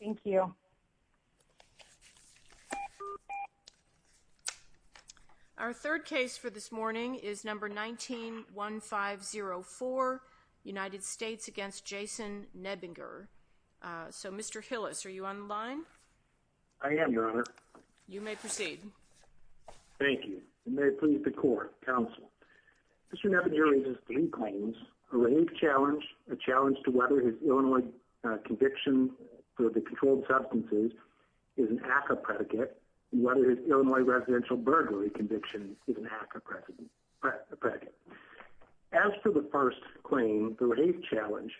Thank you. Our third case for this morning is number 19-1504, United States against Jason Nebinger. So, Mr. Hillis, are you on the line? I am, Your Honor. You may proceed. Thank you. You may plead the court, counsel. Mr. Nebinger raises three claims, a rape challenge, a challenge to weather his Illinois conviction for the controlled substances is an ACCA predicate, and weather his Illinois residential burglary conviction is an ACCA predicate. As for the first claim, the rape challenge,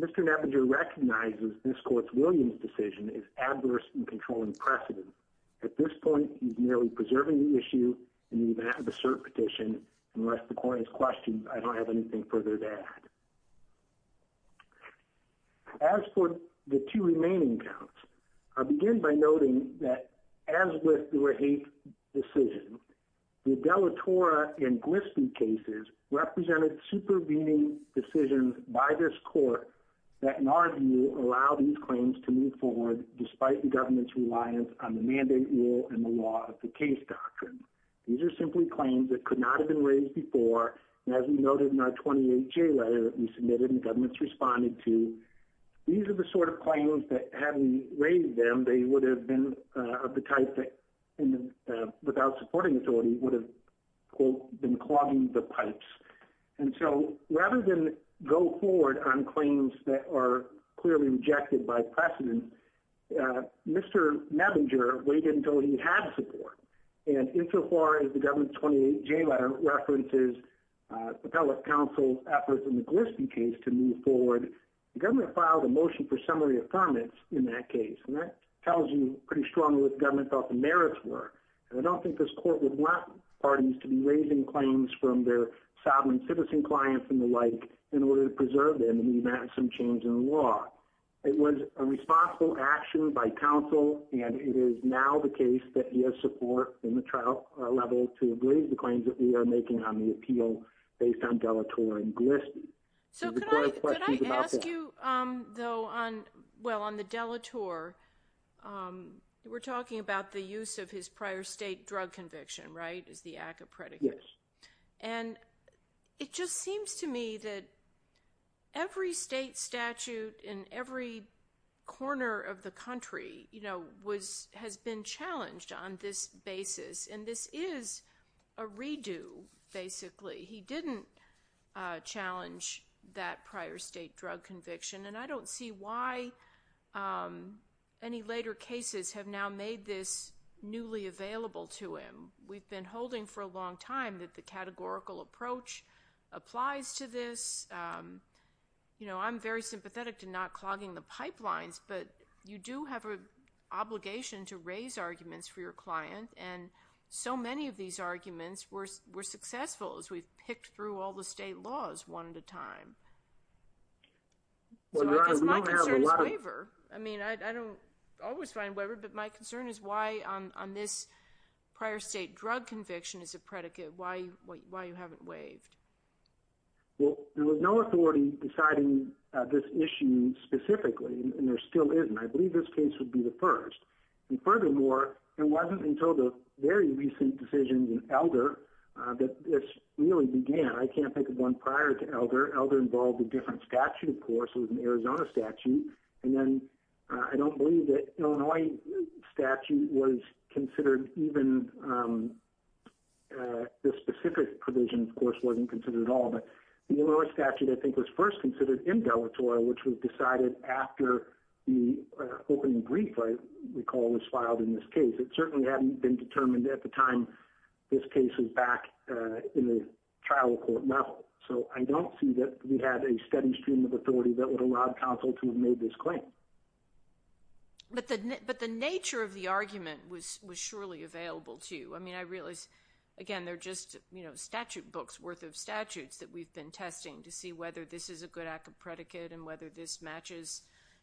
Mr. Nebinger recognizes this court's Williams decision is adverse in controlling precedent. At this point, he's merely preserving the issue and even at the cert petition. Unless the court has questions, I don't have anything further to add. As for the two remaining counts, I'll begin by noting that as with the rape decision, the Della Tora and Glispie cases represented supervening decisions by this court that, in our view, allow these claims to move forward despite the government's reliance on the mandate rule and the law of the case doctrine. These are simply claims that could not have been raised before, and as we noted in our 28-J letter that we submitted and the government's responded to, these are the sort of claims that, had we raised them, they would have been of the type that, without supporting authority, would have, quote, been clogging the pipes. And so rather than go forward on claims that are clearly rejected by precedent, Mr. Nebinger waited until he had support. And insofar as the government's 28-J letter references appellate counsel's efforts in the Glispie case to move forward, the government filed a motion for summary affirmance in that case, and that tells you pretty strongly what the government thought the merits were. And I don't think this court would want parties to be raising claims from their sovereign citizen clients and the like in order to preserve them in the event of some change in the case that you have support in the trial level to agree to the claims that we are making on the appeal based on De La Torre and Glispie. So could I ask you, though, on, well, on the De La Torre, we're talking about the use of his prior state drug conviction, right, as the act of predicate. Yes. And it just seems to me that every state statute in every corner of the country, you know, has been challenged on this basis, and this is a redo, basically. He didn't challenge that prior state drug conviction, and I don't see why any later cases have now made this newly available to him. We've been for a long time that the categorical approach applies to this. You know, I'm very sympathetic to not clogging the pipelines, but you do have an obligation to raise arguments for your client, and so many of these arguments were successful as we've picked through all the state laws one at a time. So I guess my concern is waiver. I mean, I don't always find waiver, but my concern is why on this prior state drug conviction as a predicate, why you haven't waived? Well, there was no authority deciding this issue specifically, and there still isn't. I believe this case would be the first. And furthermore, it wasn't until the very recent decision in Elder that this really began. I can't think of one prior to Elder. Elder involved a different statute, of course. It was an Arizona statute, and then I don't believe that Illinois statute was considered even the specific provision, of course, wasn't considered at all. But the Illinois statute, I think, was first considered in Delaware, which was decided after the opening brief, I recall, was filed in this case. It certainly hadn't been determined at the time this case was back in the stream of authority that would allow counsel to have made this claim. But the nature of the argument was surely available to you. I mean, I realize, again, they're just statute books worth of statutes that we've been testing to see whether this is a good act of predicate and whether this matches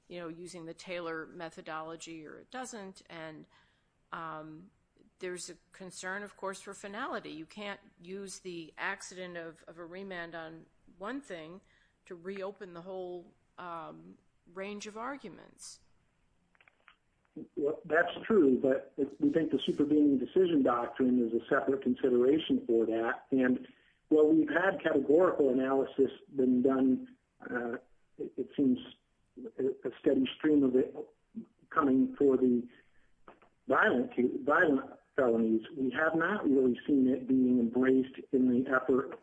using the Taylor methodology or it doesn't. And there's a concern, of course, for finality. You can't use the accident of a remand on one thing to reopen the whole range of arguments. That's true, but we think the supervening decision doctrine is a separate consideration for that. And while we've had categorical analysis been done, it seems a steady stream of it coming for the violent felonies, we have not really seen it being embraced in the effort,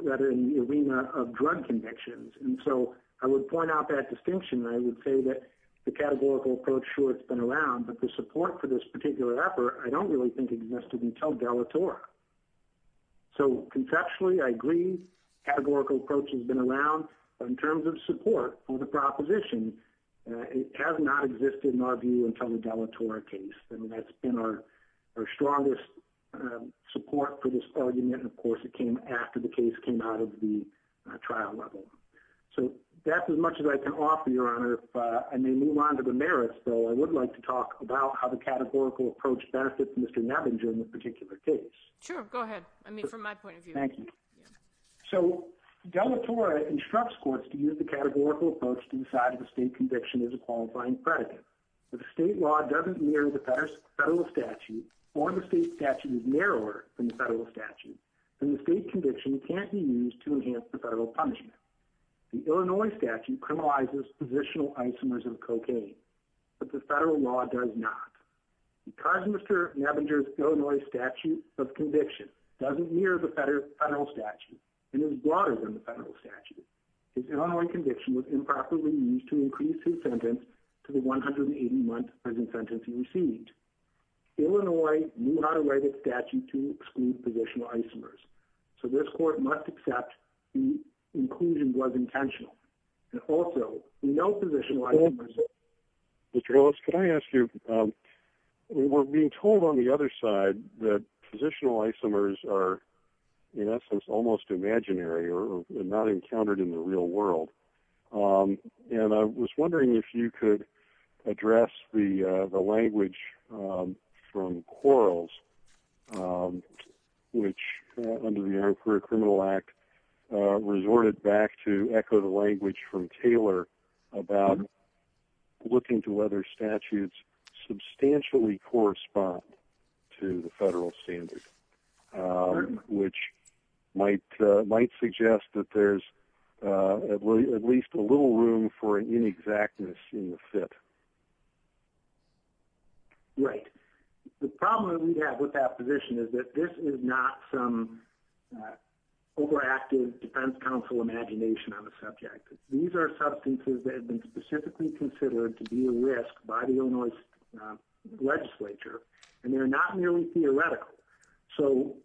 rather in the arena of drug convictions. And so I would point out that distinction. I would say that the categorical approach, sure, it's been around, but the support for this particular effort, I don't really think existed until Delatore. So conceptually, I agree, categorical approach has been around, but in terms of support for the proposition, it has not existed in our view until the Delatore case. And that's been our strongest support for this argument. And of course, it came after the case came out of the trial level. So that's as much as I can offer, Your Honor. If I may move on to the merits, though, I would like to talk about how the categorical approach benefits Mr. Nevinger in this particular case. Sure, go ahead. I mean, from my point of view. Thank you. So Delatore instructs courts to use the categorical approach to decide if a state conviction is a qualifying predicate. But the state law doesn't mirror the federal statute or the state statute is narrower than the federal statute. And the state conviction can't be used to enhance the federal punishment. The Illinois statute criminalizes positional isomers of cocaine, but the federal law does not. Because Mr. Nevinger's Illinois statute of conviction doesn't mirror the federal statute and is broader than the federal statute, his Illinois conviction was improperly used to increase his sentence to the 180-month sentence he received. Illinois knew how to write a statute to exclude positional isomers. So this court must accept the inclusion was intentional. And also, no positional isomers. Mr. Ellis, could I ask you, we're being told on the other side that positional isomers are, in essence, almost imaginary or not encountered in the real world. And I was wondering if you could address the language from Quarles, which under the Interim Criminal Act, resorted back to echo the language from Taylor about looking to whether statutes substantially correspond to the federal standard, which might suggest that there's at least a little room for inexactness in the fit. Right. The problem we have with that position is that this is not some overactive defense counsel imagination on the subject. These are substances that have been specifically considered to be a risk by the Illinois legislature, and they're not nearly theoretical. So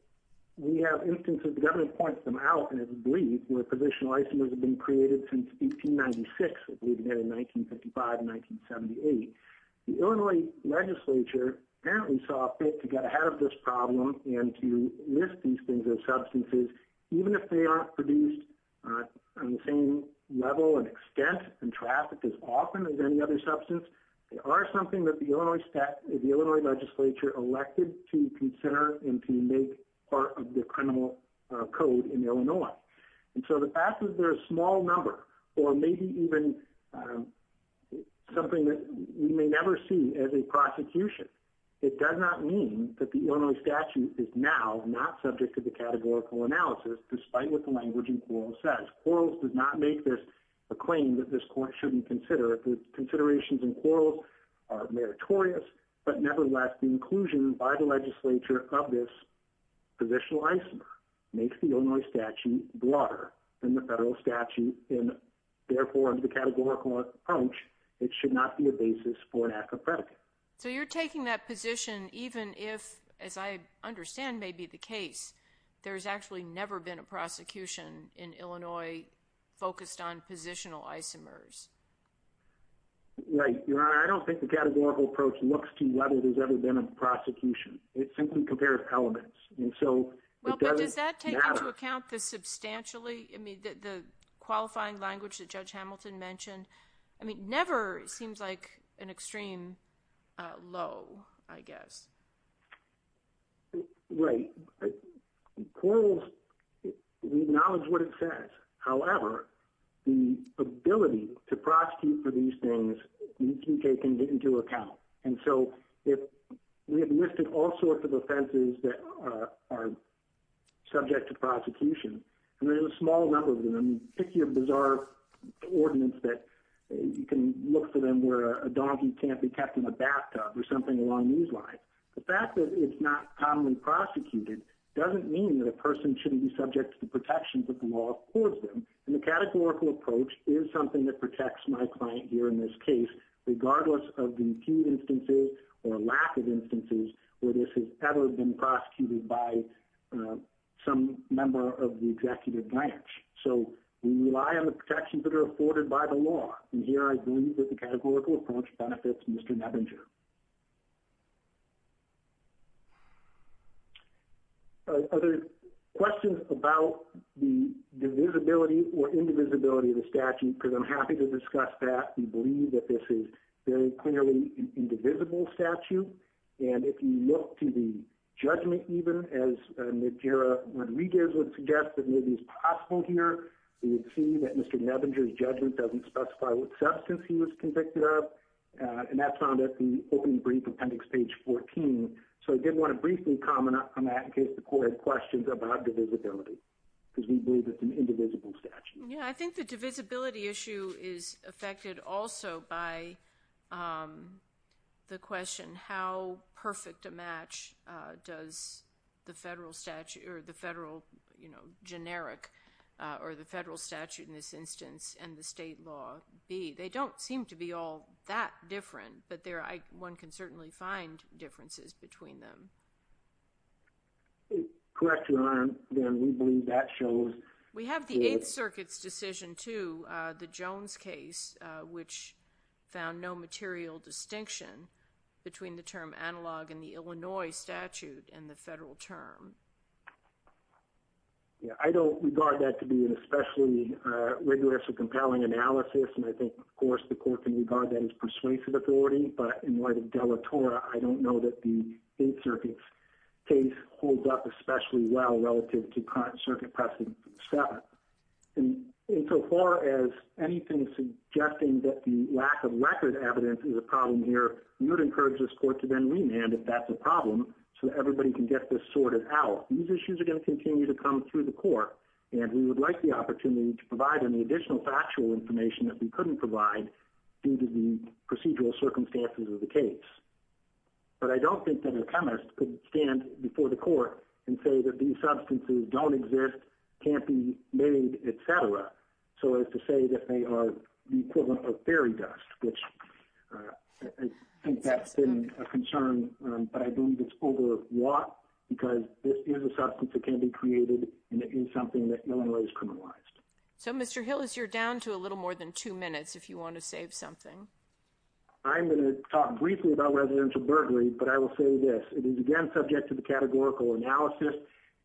we have instances, the government points them out, and it's believed, where positional isomers have been created since 1896. It would have been in 1955, 1978. The Illinois legislature apparently saw fit to get ahead of this problem and to list these things as substances, even if they aren't produced on the same level and extent and trafficked as often as any other substance. They are something that the Illinois legislature elected to consider and to make part of the criminal code in Illinois. And so the fact that they're a small number, or maybe even something that we may never see as a prosecution, it does not mean that the Illinois statute is now not subject to the categorical analysis, despite what the language in Quarles says. Quarles did not make this a claim that this court shouldn't consider. The considerations in Quarles are meritorious, but nevertheless, the inclusion by the legislature of this positional isomer makes the Illinois statute broader than the federal statute, and therefore, under the categorical approach, it should not be a basis for an act of predicate. So you're taking that position even if, as I understand may be the case, there's actually never been a prosecution in Illinois focused on positional isomers. Right. Your Honor, I don't think the categorical approach looks to whether there's ever been a prosecution. It simply compares elements. And so it doesn't matter. Well, but does that take into account the substantially, I mean, the qualifying language that Judge Hamilton mentioned? I mean, never seems like an extreme low, I guess. Right. Quarles, we acknowledge what it says. However, the ability to prosecute for these things, you can take into account. And so we have listed all sorts of offenses that are subject to prosecution, and there's a small number of them. I mean, pick your bizarre ordinance that you can look for them where a donkey can't be kept in a bathtub or something along these lines. The fact that it's not commonly prosecuted doesn't mean that a person shouldn't be subject to the protections that the law affords them. And the categorical approach is something that protects my client here in this case, regardless of the few instances or lack of instances where this has ever been prosecuted by some member of the executive branch. So we rely on the protections that are afforded by the law. And here I believe that categorical approach benefits Mr. Nebinger. Other questions about the divisibility or indivisibility of the statute? Because I'm happy to discuss that. We believe that this is very clearly an indivisible statute. And if you look to the judgment, even as Najira Rodriguez would suggest that maybe it's possible here, we would see that Mr. Nebinger's judgment doesn't specify what substance he was convicted of. And that's found at the opening brief appendix, page 14. So I did want to briefly comment on that in case the court had questions about divisibility, because we believe it's an indivisible statute. Yeah, I think the divisibility issue is affected also by the question, how perfect a match does the federal statute or the federal, you know, generic or the federal statute in this instance and the state law be? They don't seem to be all that different, but one can certainly find differences between them. Correct Your Honor, we believe that shows... State Circuit's decision to the Jones case, which found no material distinction between the term analog and the Illinois statute and the federal term. Yeah, I don't regard that to be an especially rigorous or compelling analysis. And I think, of course, the court can regard that as persuasive authority. But in light of Della Tora, I don't know that the State Circuit's case holds up especially well relative to the Illinois statute. And so far as anything suggesting that the lack of record evidence is a problem here, we would encourage this court to then remand if that's a problem, so that everybody can get this sorted out. These issues are going to continue to come through the court, and we would like the opportunity to provide any additional factual information that we couldn't provide due to the procedural circumstances of the case. But I don't think that a chemist could stand before the court and say that these substances don't exist, can't be made, et cetera. So as to say that they are the equivalent of fairy dust, which I think that's been a concern, but I believe it's over a lot because this is a substance that can be created, and it is something that Illinois is criminalized. So Mr. Hillis, you're down to a little more than two minutes if you want to save something. I'm going to talk briefly about residential burglary, but I will say this. It is, again, subject to the categorical analysis.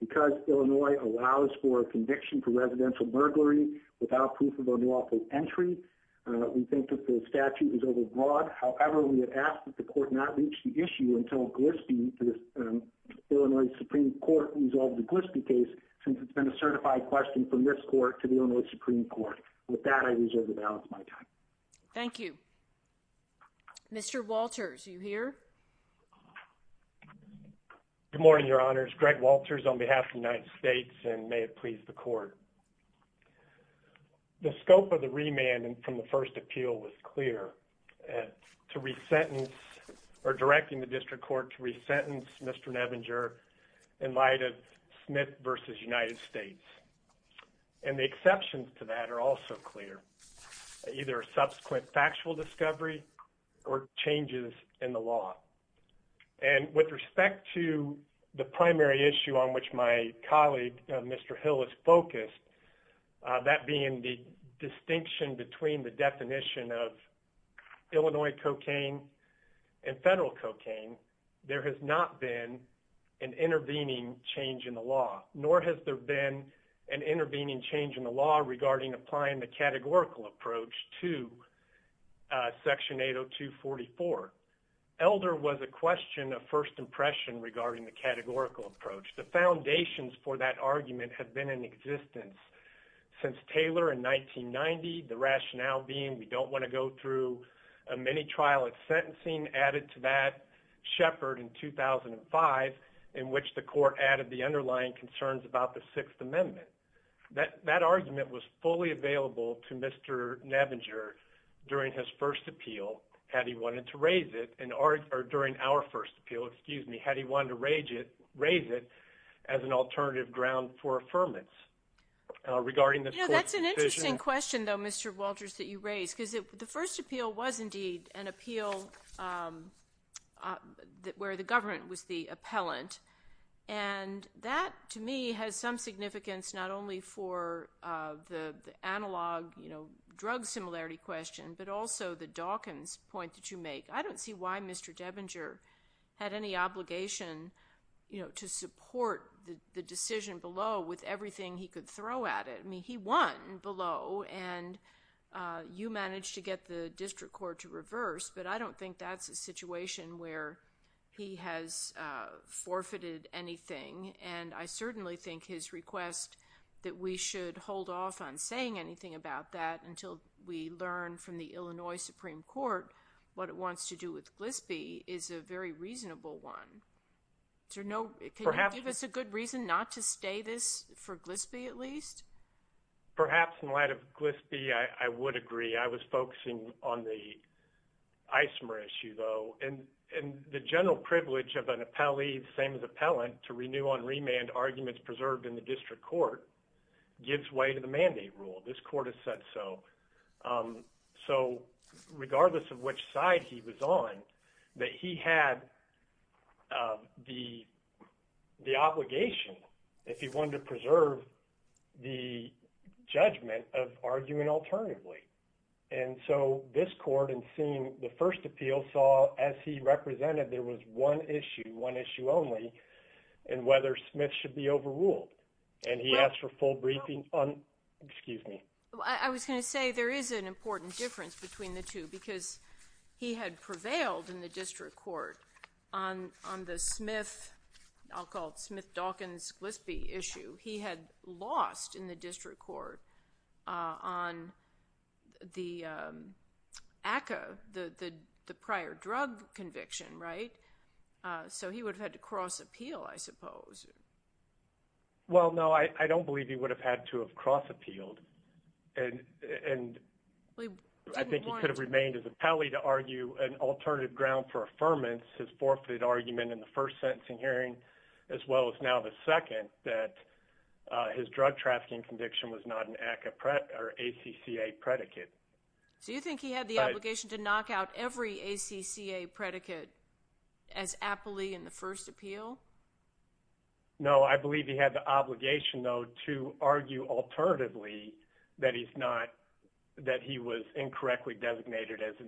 Because Illinois allows for a conviction for residential burglary without proof of unlawful entry, we think that the statute is overbroad. However, we would ask that the court not reach the issue until the Illinois Supreme Court resolves the Glispie case, since it's been a certified question from this court to the Illinois Supreme Court. With that, I reserve the balance of my time. Thank you. Mr. Walters, are you here? Good morning, Your Honors. Greg Walters on behalf of the United States, and may it please the court. The scope of the remand from the first appeal was clear, or directing the district court to resentence Mr. Nevinger in light of Smith versus United States. And the exceptions to that are also clear, either a subsequent factual discovery or changes in the primary issue on which my colleague, Mr. Hill, is focused, that being the distinction between the definition of Illinois cocaine and federal cocaine. There has not been an intervening change in the law, nor has there been an intervening change in the law regarding applying the categorical approach. The foundations for that argument have been in existence since Taylor in 1990, the rationale being we don't want to go through a mini trial of sentencing added to that Sheppard in 2005, in which the court added the underlying concerns about the Sixth Amendment. That argument was fully available to Mr. Nevinger during his first appeal, had he wanted to raise it as an alternative ground for affirmance regarding the court's decision. You know, that's an interesting question, though, Mr. Walters, that you raised, because the first appeal was indeed an appeal where the government was the appellant. And that, to me, has some significance not only for the analog drug similarity question, but also the Dawkins point that you make. I don't see why Mr. Debinger had any obligation to support the decision below with everything he could throw at it. I mean, he won below, and you managed to get the district court to reverse, but I don't think that's a situation where he has forfeited anything. And I certainly think his request that we should hold off on saying anything about that until we learn from the Illinois Supreme Court what it wants to do with GLSBI is a very reasonable one. Can you give us a good reason not to stay this for GLSBI, at least? Perhaps in light of GLSBI, I would agree. I was focusing on the ISMR issue, though, and the general privilege of an appellee, the same as appellant, to renew on remand arguments preserved in the district court gives way to the mandate rule. This court said so. So regardless of which side he was on, that he had the obligation, if he wanted to preserve the judgment of arguing alternatively. And so this court, in seeing the first appeal, saw as he represented there was one issue, one issue only, and whether Smith should be overruled. And he asked for full briefing on, excuse me. I was going to say there is an important difference between the two, because he had prevailed in the district court on the Smith, I'll call it Smith-Dawkins-GLSBI issue. He had lost in the district court on the ACCA, the prior drug conviction, right? So he would have had to cross-appeal, I suppose. Well, no, I don't believe he would have had to have cross-appealed. And I think he could have remained as appellee to argue an alternative ground for affirmance, his forfeited argument in the first sentencing hearing, as well as now the second, that his drug trafficking conviction was not an ACCA predicate. So you think he had the obligation to knock out every ACCA predicate as appellee in the first appeal? No, I believe he had the obligation, though, to argue alternatively that he's not, that he was incorrectly designated as an,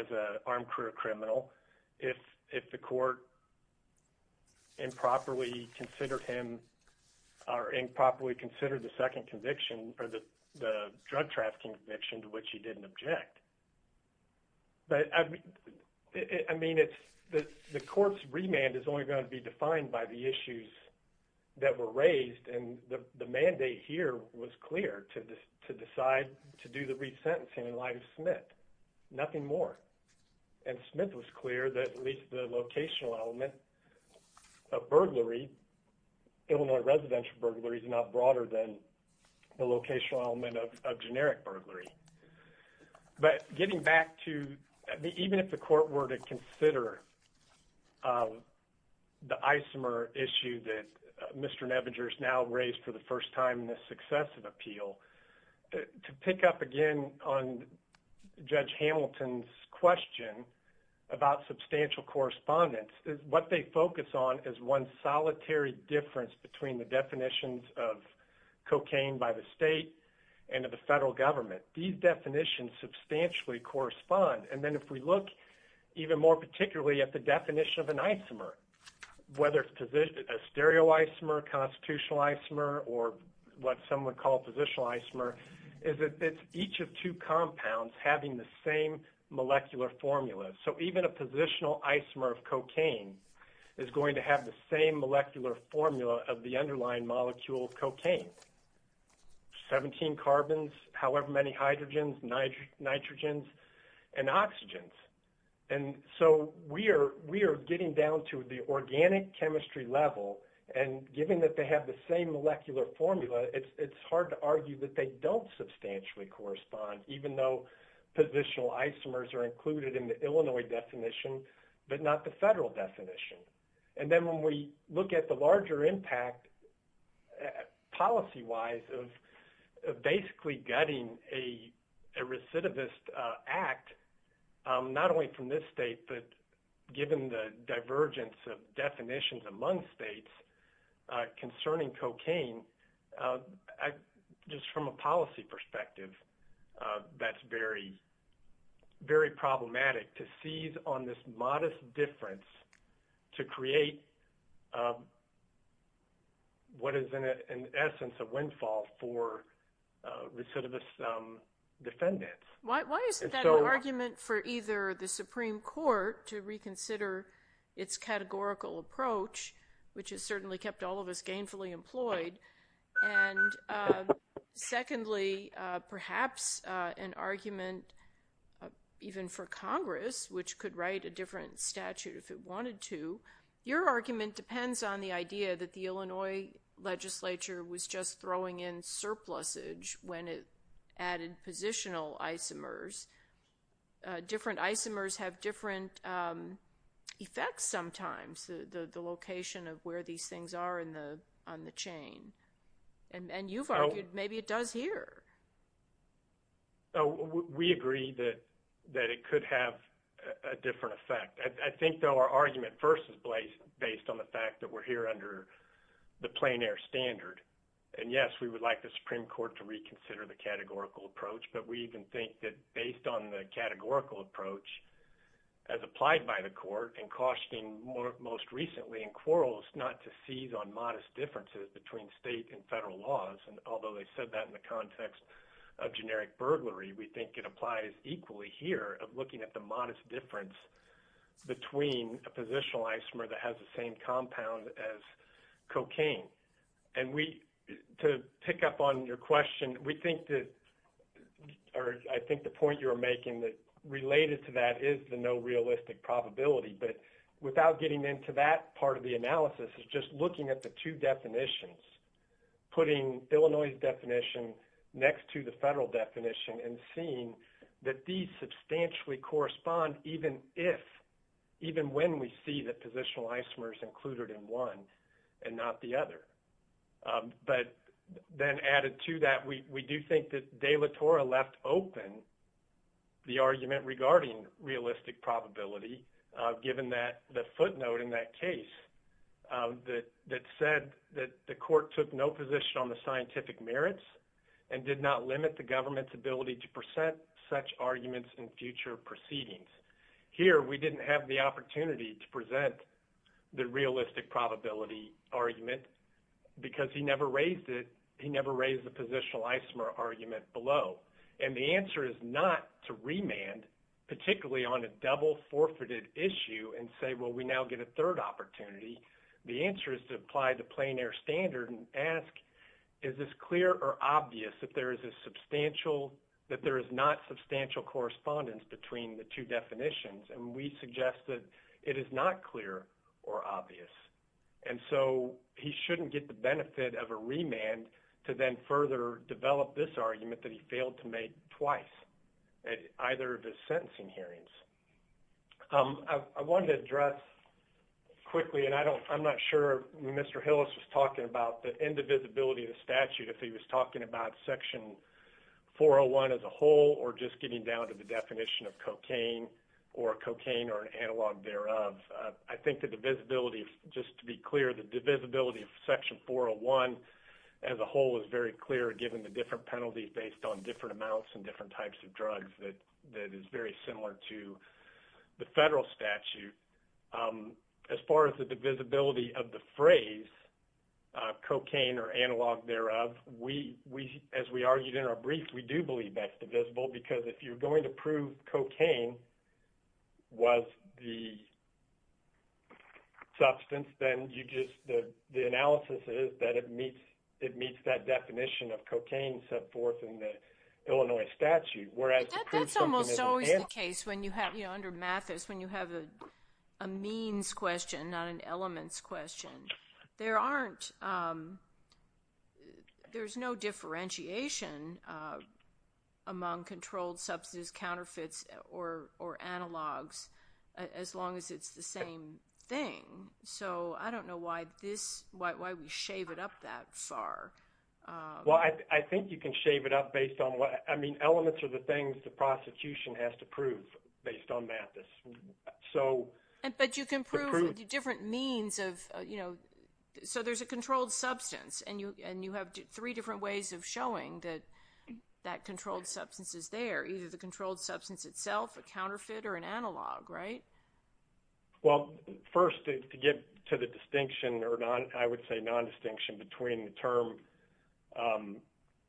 as a armed career criminal. If, if the court improperly considered him, or improperly considered the second conviction, or the drug trafficking conviction to which he didn't object. But, I mean, it's, the court's remand is only going to be defined by the issues that were raised. And the mandate here was clear to decide to do the resentencing in light of Smith, nothing more. And Smith was clear that at least the locational element of burglary, Illinois residential burglary, is not broader than the locational element of generic burglary. But getting back to, even if the court were to consider the isomer issue that Mr. Nebinger has now raised for the first time in this successive appeal, to pick up again on Judge Hamilton's question about substantial correspondence, what they focus on is one solitary difference between the definitions of cocaine by the state and of the federal government. These definitions substantially correspond. And then if we look even more particularly at the definition of an isomer, whether it's a stereo isomer, constitutional isomer, or what some would call positional isomer, is that it's each of two is going to have the same molecular formula of the underlying molecule cocaine. 17 carbons, however many hydrogens, nitrogens, and oxygens. And so we are getting down to the organic chemistry level. And given that they have the same molecular formula, it's hard to argue that they don't substantially correspond, even though positional isomers are included in the federal definition. And then when we look at the larger impact, policy-wise, of basically getting a recidivist act, not only from this state, but given the divergence of definitions among states concerning cocaine, just from a policy perspective, that's very, very problematic to seize on this modest difference to create what is in essence a windfall for recidivist defendants. Why isn't that an argument for either the Supreme Court to reconsider its categorical approach, which has certainly kept all of us gainfully employed, and secondly, perhaps an argument even for Congress, which could write a different statute if it wanted to. Your argument depends on the idea that the Illinois legislature was just throwing in surplusage when it added positional isomers. Different isomers have different effects sometimes, the location of where these things are on the chain. And you've argued maybe it does here. We agree that it could have a different effect. I think, though, our argument first is based on the fact that we're here under the plein air standard. And yes, we would like the Supreme Court to reconsider the categorical approach, but we even think that based on the categorical approach as applied by the court, and cautioning most recently in quarrels not to seize on modest differences between state and federal laws, and although they said that in the context of generic burglary, we think it applies equally here of looking at the modest difference between a positional isomer that has the same compound as cocaine. And to pick up on your question, we think that, or I think the point you're making that related to that is the no realistic probability. But without getting into that part of the analysis is just looking at the two definitions, putting Illinois' definition next to the federal definition and seeing that these substantially correspond even if, even when we see the positional isomers included in one and not the other. But then added to that, we do think that De La Torre left open the argument regarding realistic probability, given that the footnote in that case that said that the court took no position on the scientific merits and did not limit the government's ability to present such arguments in future proceedings. Here, we didn't have the opportunity to present the realistic probability argument because he never raised it. He never raised the positional isomer argument below. And the answer is not to remand, particularly on a double forfeited issue and say, well, we now get a third opportunity. The answer is to apply the plein air standard and ask, is this clear or obvious that there is a suggested it is not clear or obvious. And so he shouldn't get the benefit of a remand to then further develop this argument that he failed to make twice at either of his sentencing hearings. I wanted to address quickly, and I'm not sure Mr. Hillis was talking about the indivisibility of the statute if he was talking about section 401 as a whole or just getting down to the definition of cocaine or cocaine or analog thereof. I think the divisibility, just to be clear, the divisibility of section 401 as a whole is very clear given the different penalties based on different amounts and different types of drugs that is very similar to the federal statute. As far as the divisibility of the phrase, cocaine or analog thereof, we, as we argued in our brief, we do believe that's divisible because if you're going to prove cocaine was the substance, then you just, the analysis is that it meets that definition of cocaine set forth in the Illinois statute, whereas- That's almost always the case when you have, you know, under Mathis, when you have a means question, not an elements question. There aren't, there's no differentiation among controlled substance counterfeits or analogs as long as it's the same thing. So I don't know why this, why we shave it up that far. Well, I think you can shave it up based on what, I mean, elements are the things the prosecution has to prove based on Mathis. So- But you can prove different means of, you know, so there's a controlled substance and you have three different ways of showing that that controlled substance is there, either the controlled substance itself, a counterfeit, or an analog, right? Well, first to get to the distinction, or I would say non-distinction between the term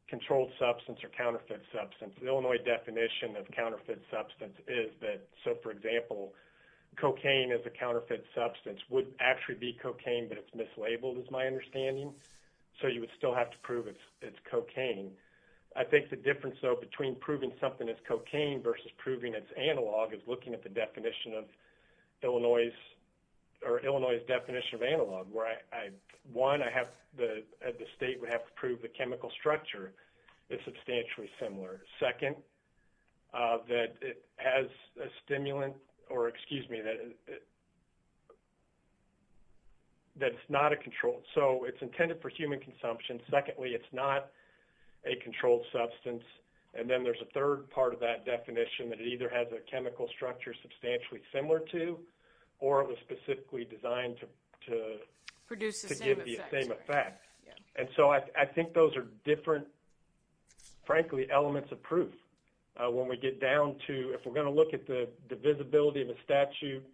controlled substance or counterfeit substance, the Illinois definition of counterfeit substance is that, so for example, cocaine as a counterfeit substance would actually be cocaine, but it's mislabeled, is my understanding. So you would still have to prove it's cocaine. I think the difference though, between proving something as cocaine versus proving it's analog is looking at the definition of Illinois, or Illinois's definition of analog, where I, one, I have the state would have to prove the chemical structure is substantially similar. Second, that it has a stimulant, or excuse me, that it's not a controlled, so it's intended for human consumption. Secondly, it's not a controlled substance. And then there's a third part of that definition that it either has a produce the same effect. And so I think those are different, frankly, elements of proof. When we get down to, if we're going to look at the visibility of a statute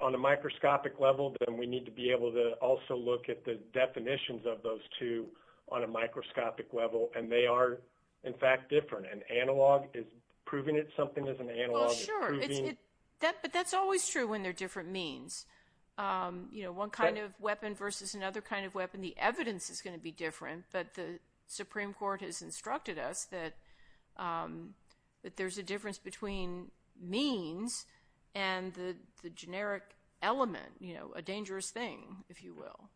on a microscopic level, then we need to be able to also look at the definitions of those two on a microscopic level, and they are, in fact, different, and analog is proving it something is analog. But that's always true when they're different means. You know, one kind of weapon versus another kind of weapon, the evidence is going to be different, but the Supreme Court has instructed us that there's a difference between means and the generic element, you know, a dangerous thing, if you will.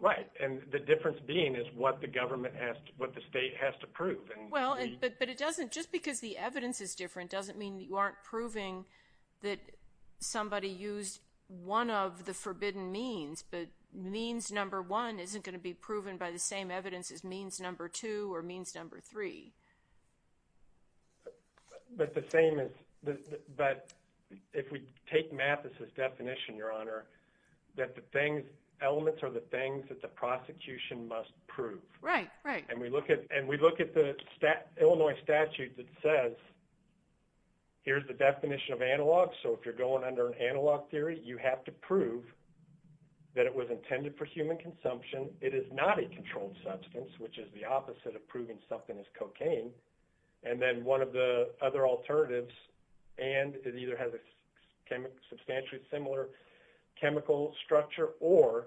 Right, and the difference being is what the government has, what the state has to prove. Well, but it doesn't, just because the evidence is different doesn't mean you aren't proving that somebody used one of the forbidden means, but means number one isn't going to be proven by the same evidence as means number two or means number three. But the same is, but if we take math as his definition, Your Honor, that the things, elements are the things that the prosecution must prove. Right, right. And we look at, and we look at the Illinois statute that says, here's the definition of analog. So if you're going under an analog theory, you have to prove that it was intended for human consumption. It is not a controlled substance, which is the opposite of proving something is cocaine. And then one of the other alternatives, and it either has a substantially similar chemical structure or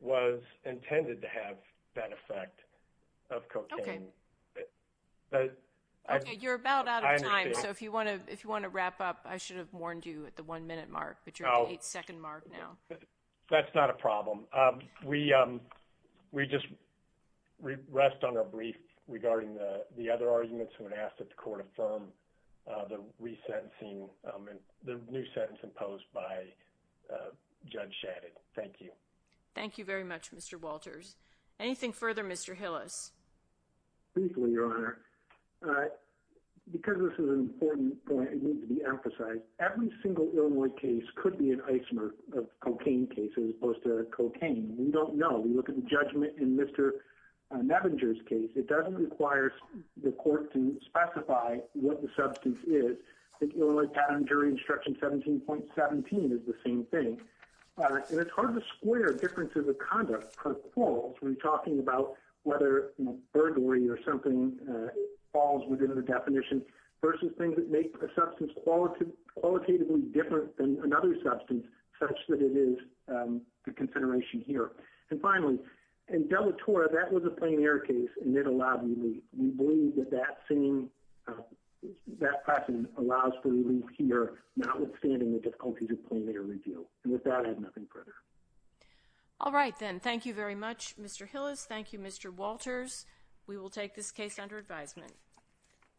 was intended to have that effect of cocaine. Okay, you're about out of time. So if you want to, if you want to wrap up, I should have warned you at the one minute mark, but you're at the eight second mark now. That's not a problem. We just rest on our brief regarding the other arguments when asked that Judge Shannon. Thank you. Thank you very much, Mr. Walters. Anything further, Mr. Hillis. Briefly, Your Honor, because this is an important point, it needs to be emphasized. Every single Illinois case could be an ice mark of cocaine cases as opposed to cocaine. We don't know. We look at the judgment in Mr. Nevenger's case. It doesn't require the court to specify what the substance is. The Illinois Patent and Jury Instruction 17.17 is the same thing. And it's hard to square differences of conduct per quals when talking about whether burglary or something falls within the definition versus things that make a substance qualitatively different than another substance such that it is a consideration here. And finally, in Delatora, that was a plain air case, and it allowed relief. We believe that that same, that question allows for relief here, notwithstanding the difficulties of plain air review. And with that, I have nothing further. All right, then. Thank you very much, Mr. Hillis. Thank you, Mr. Walters. We will take this case under advisement.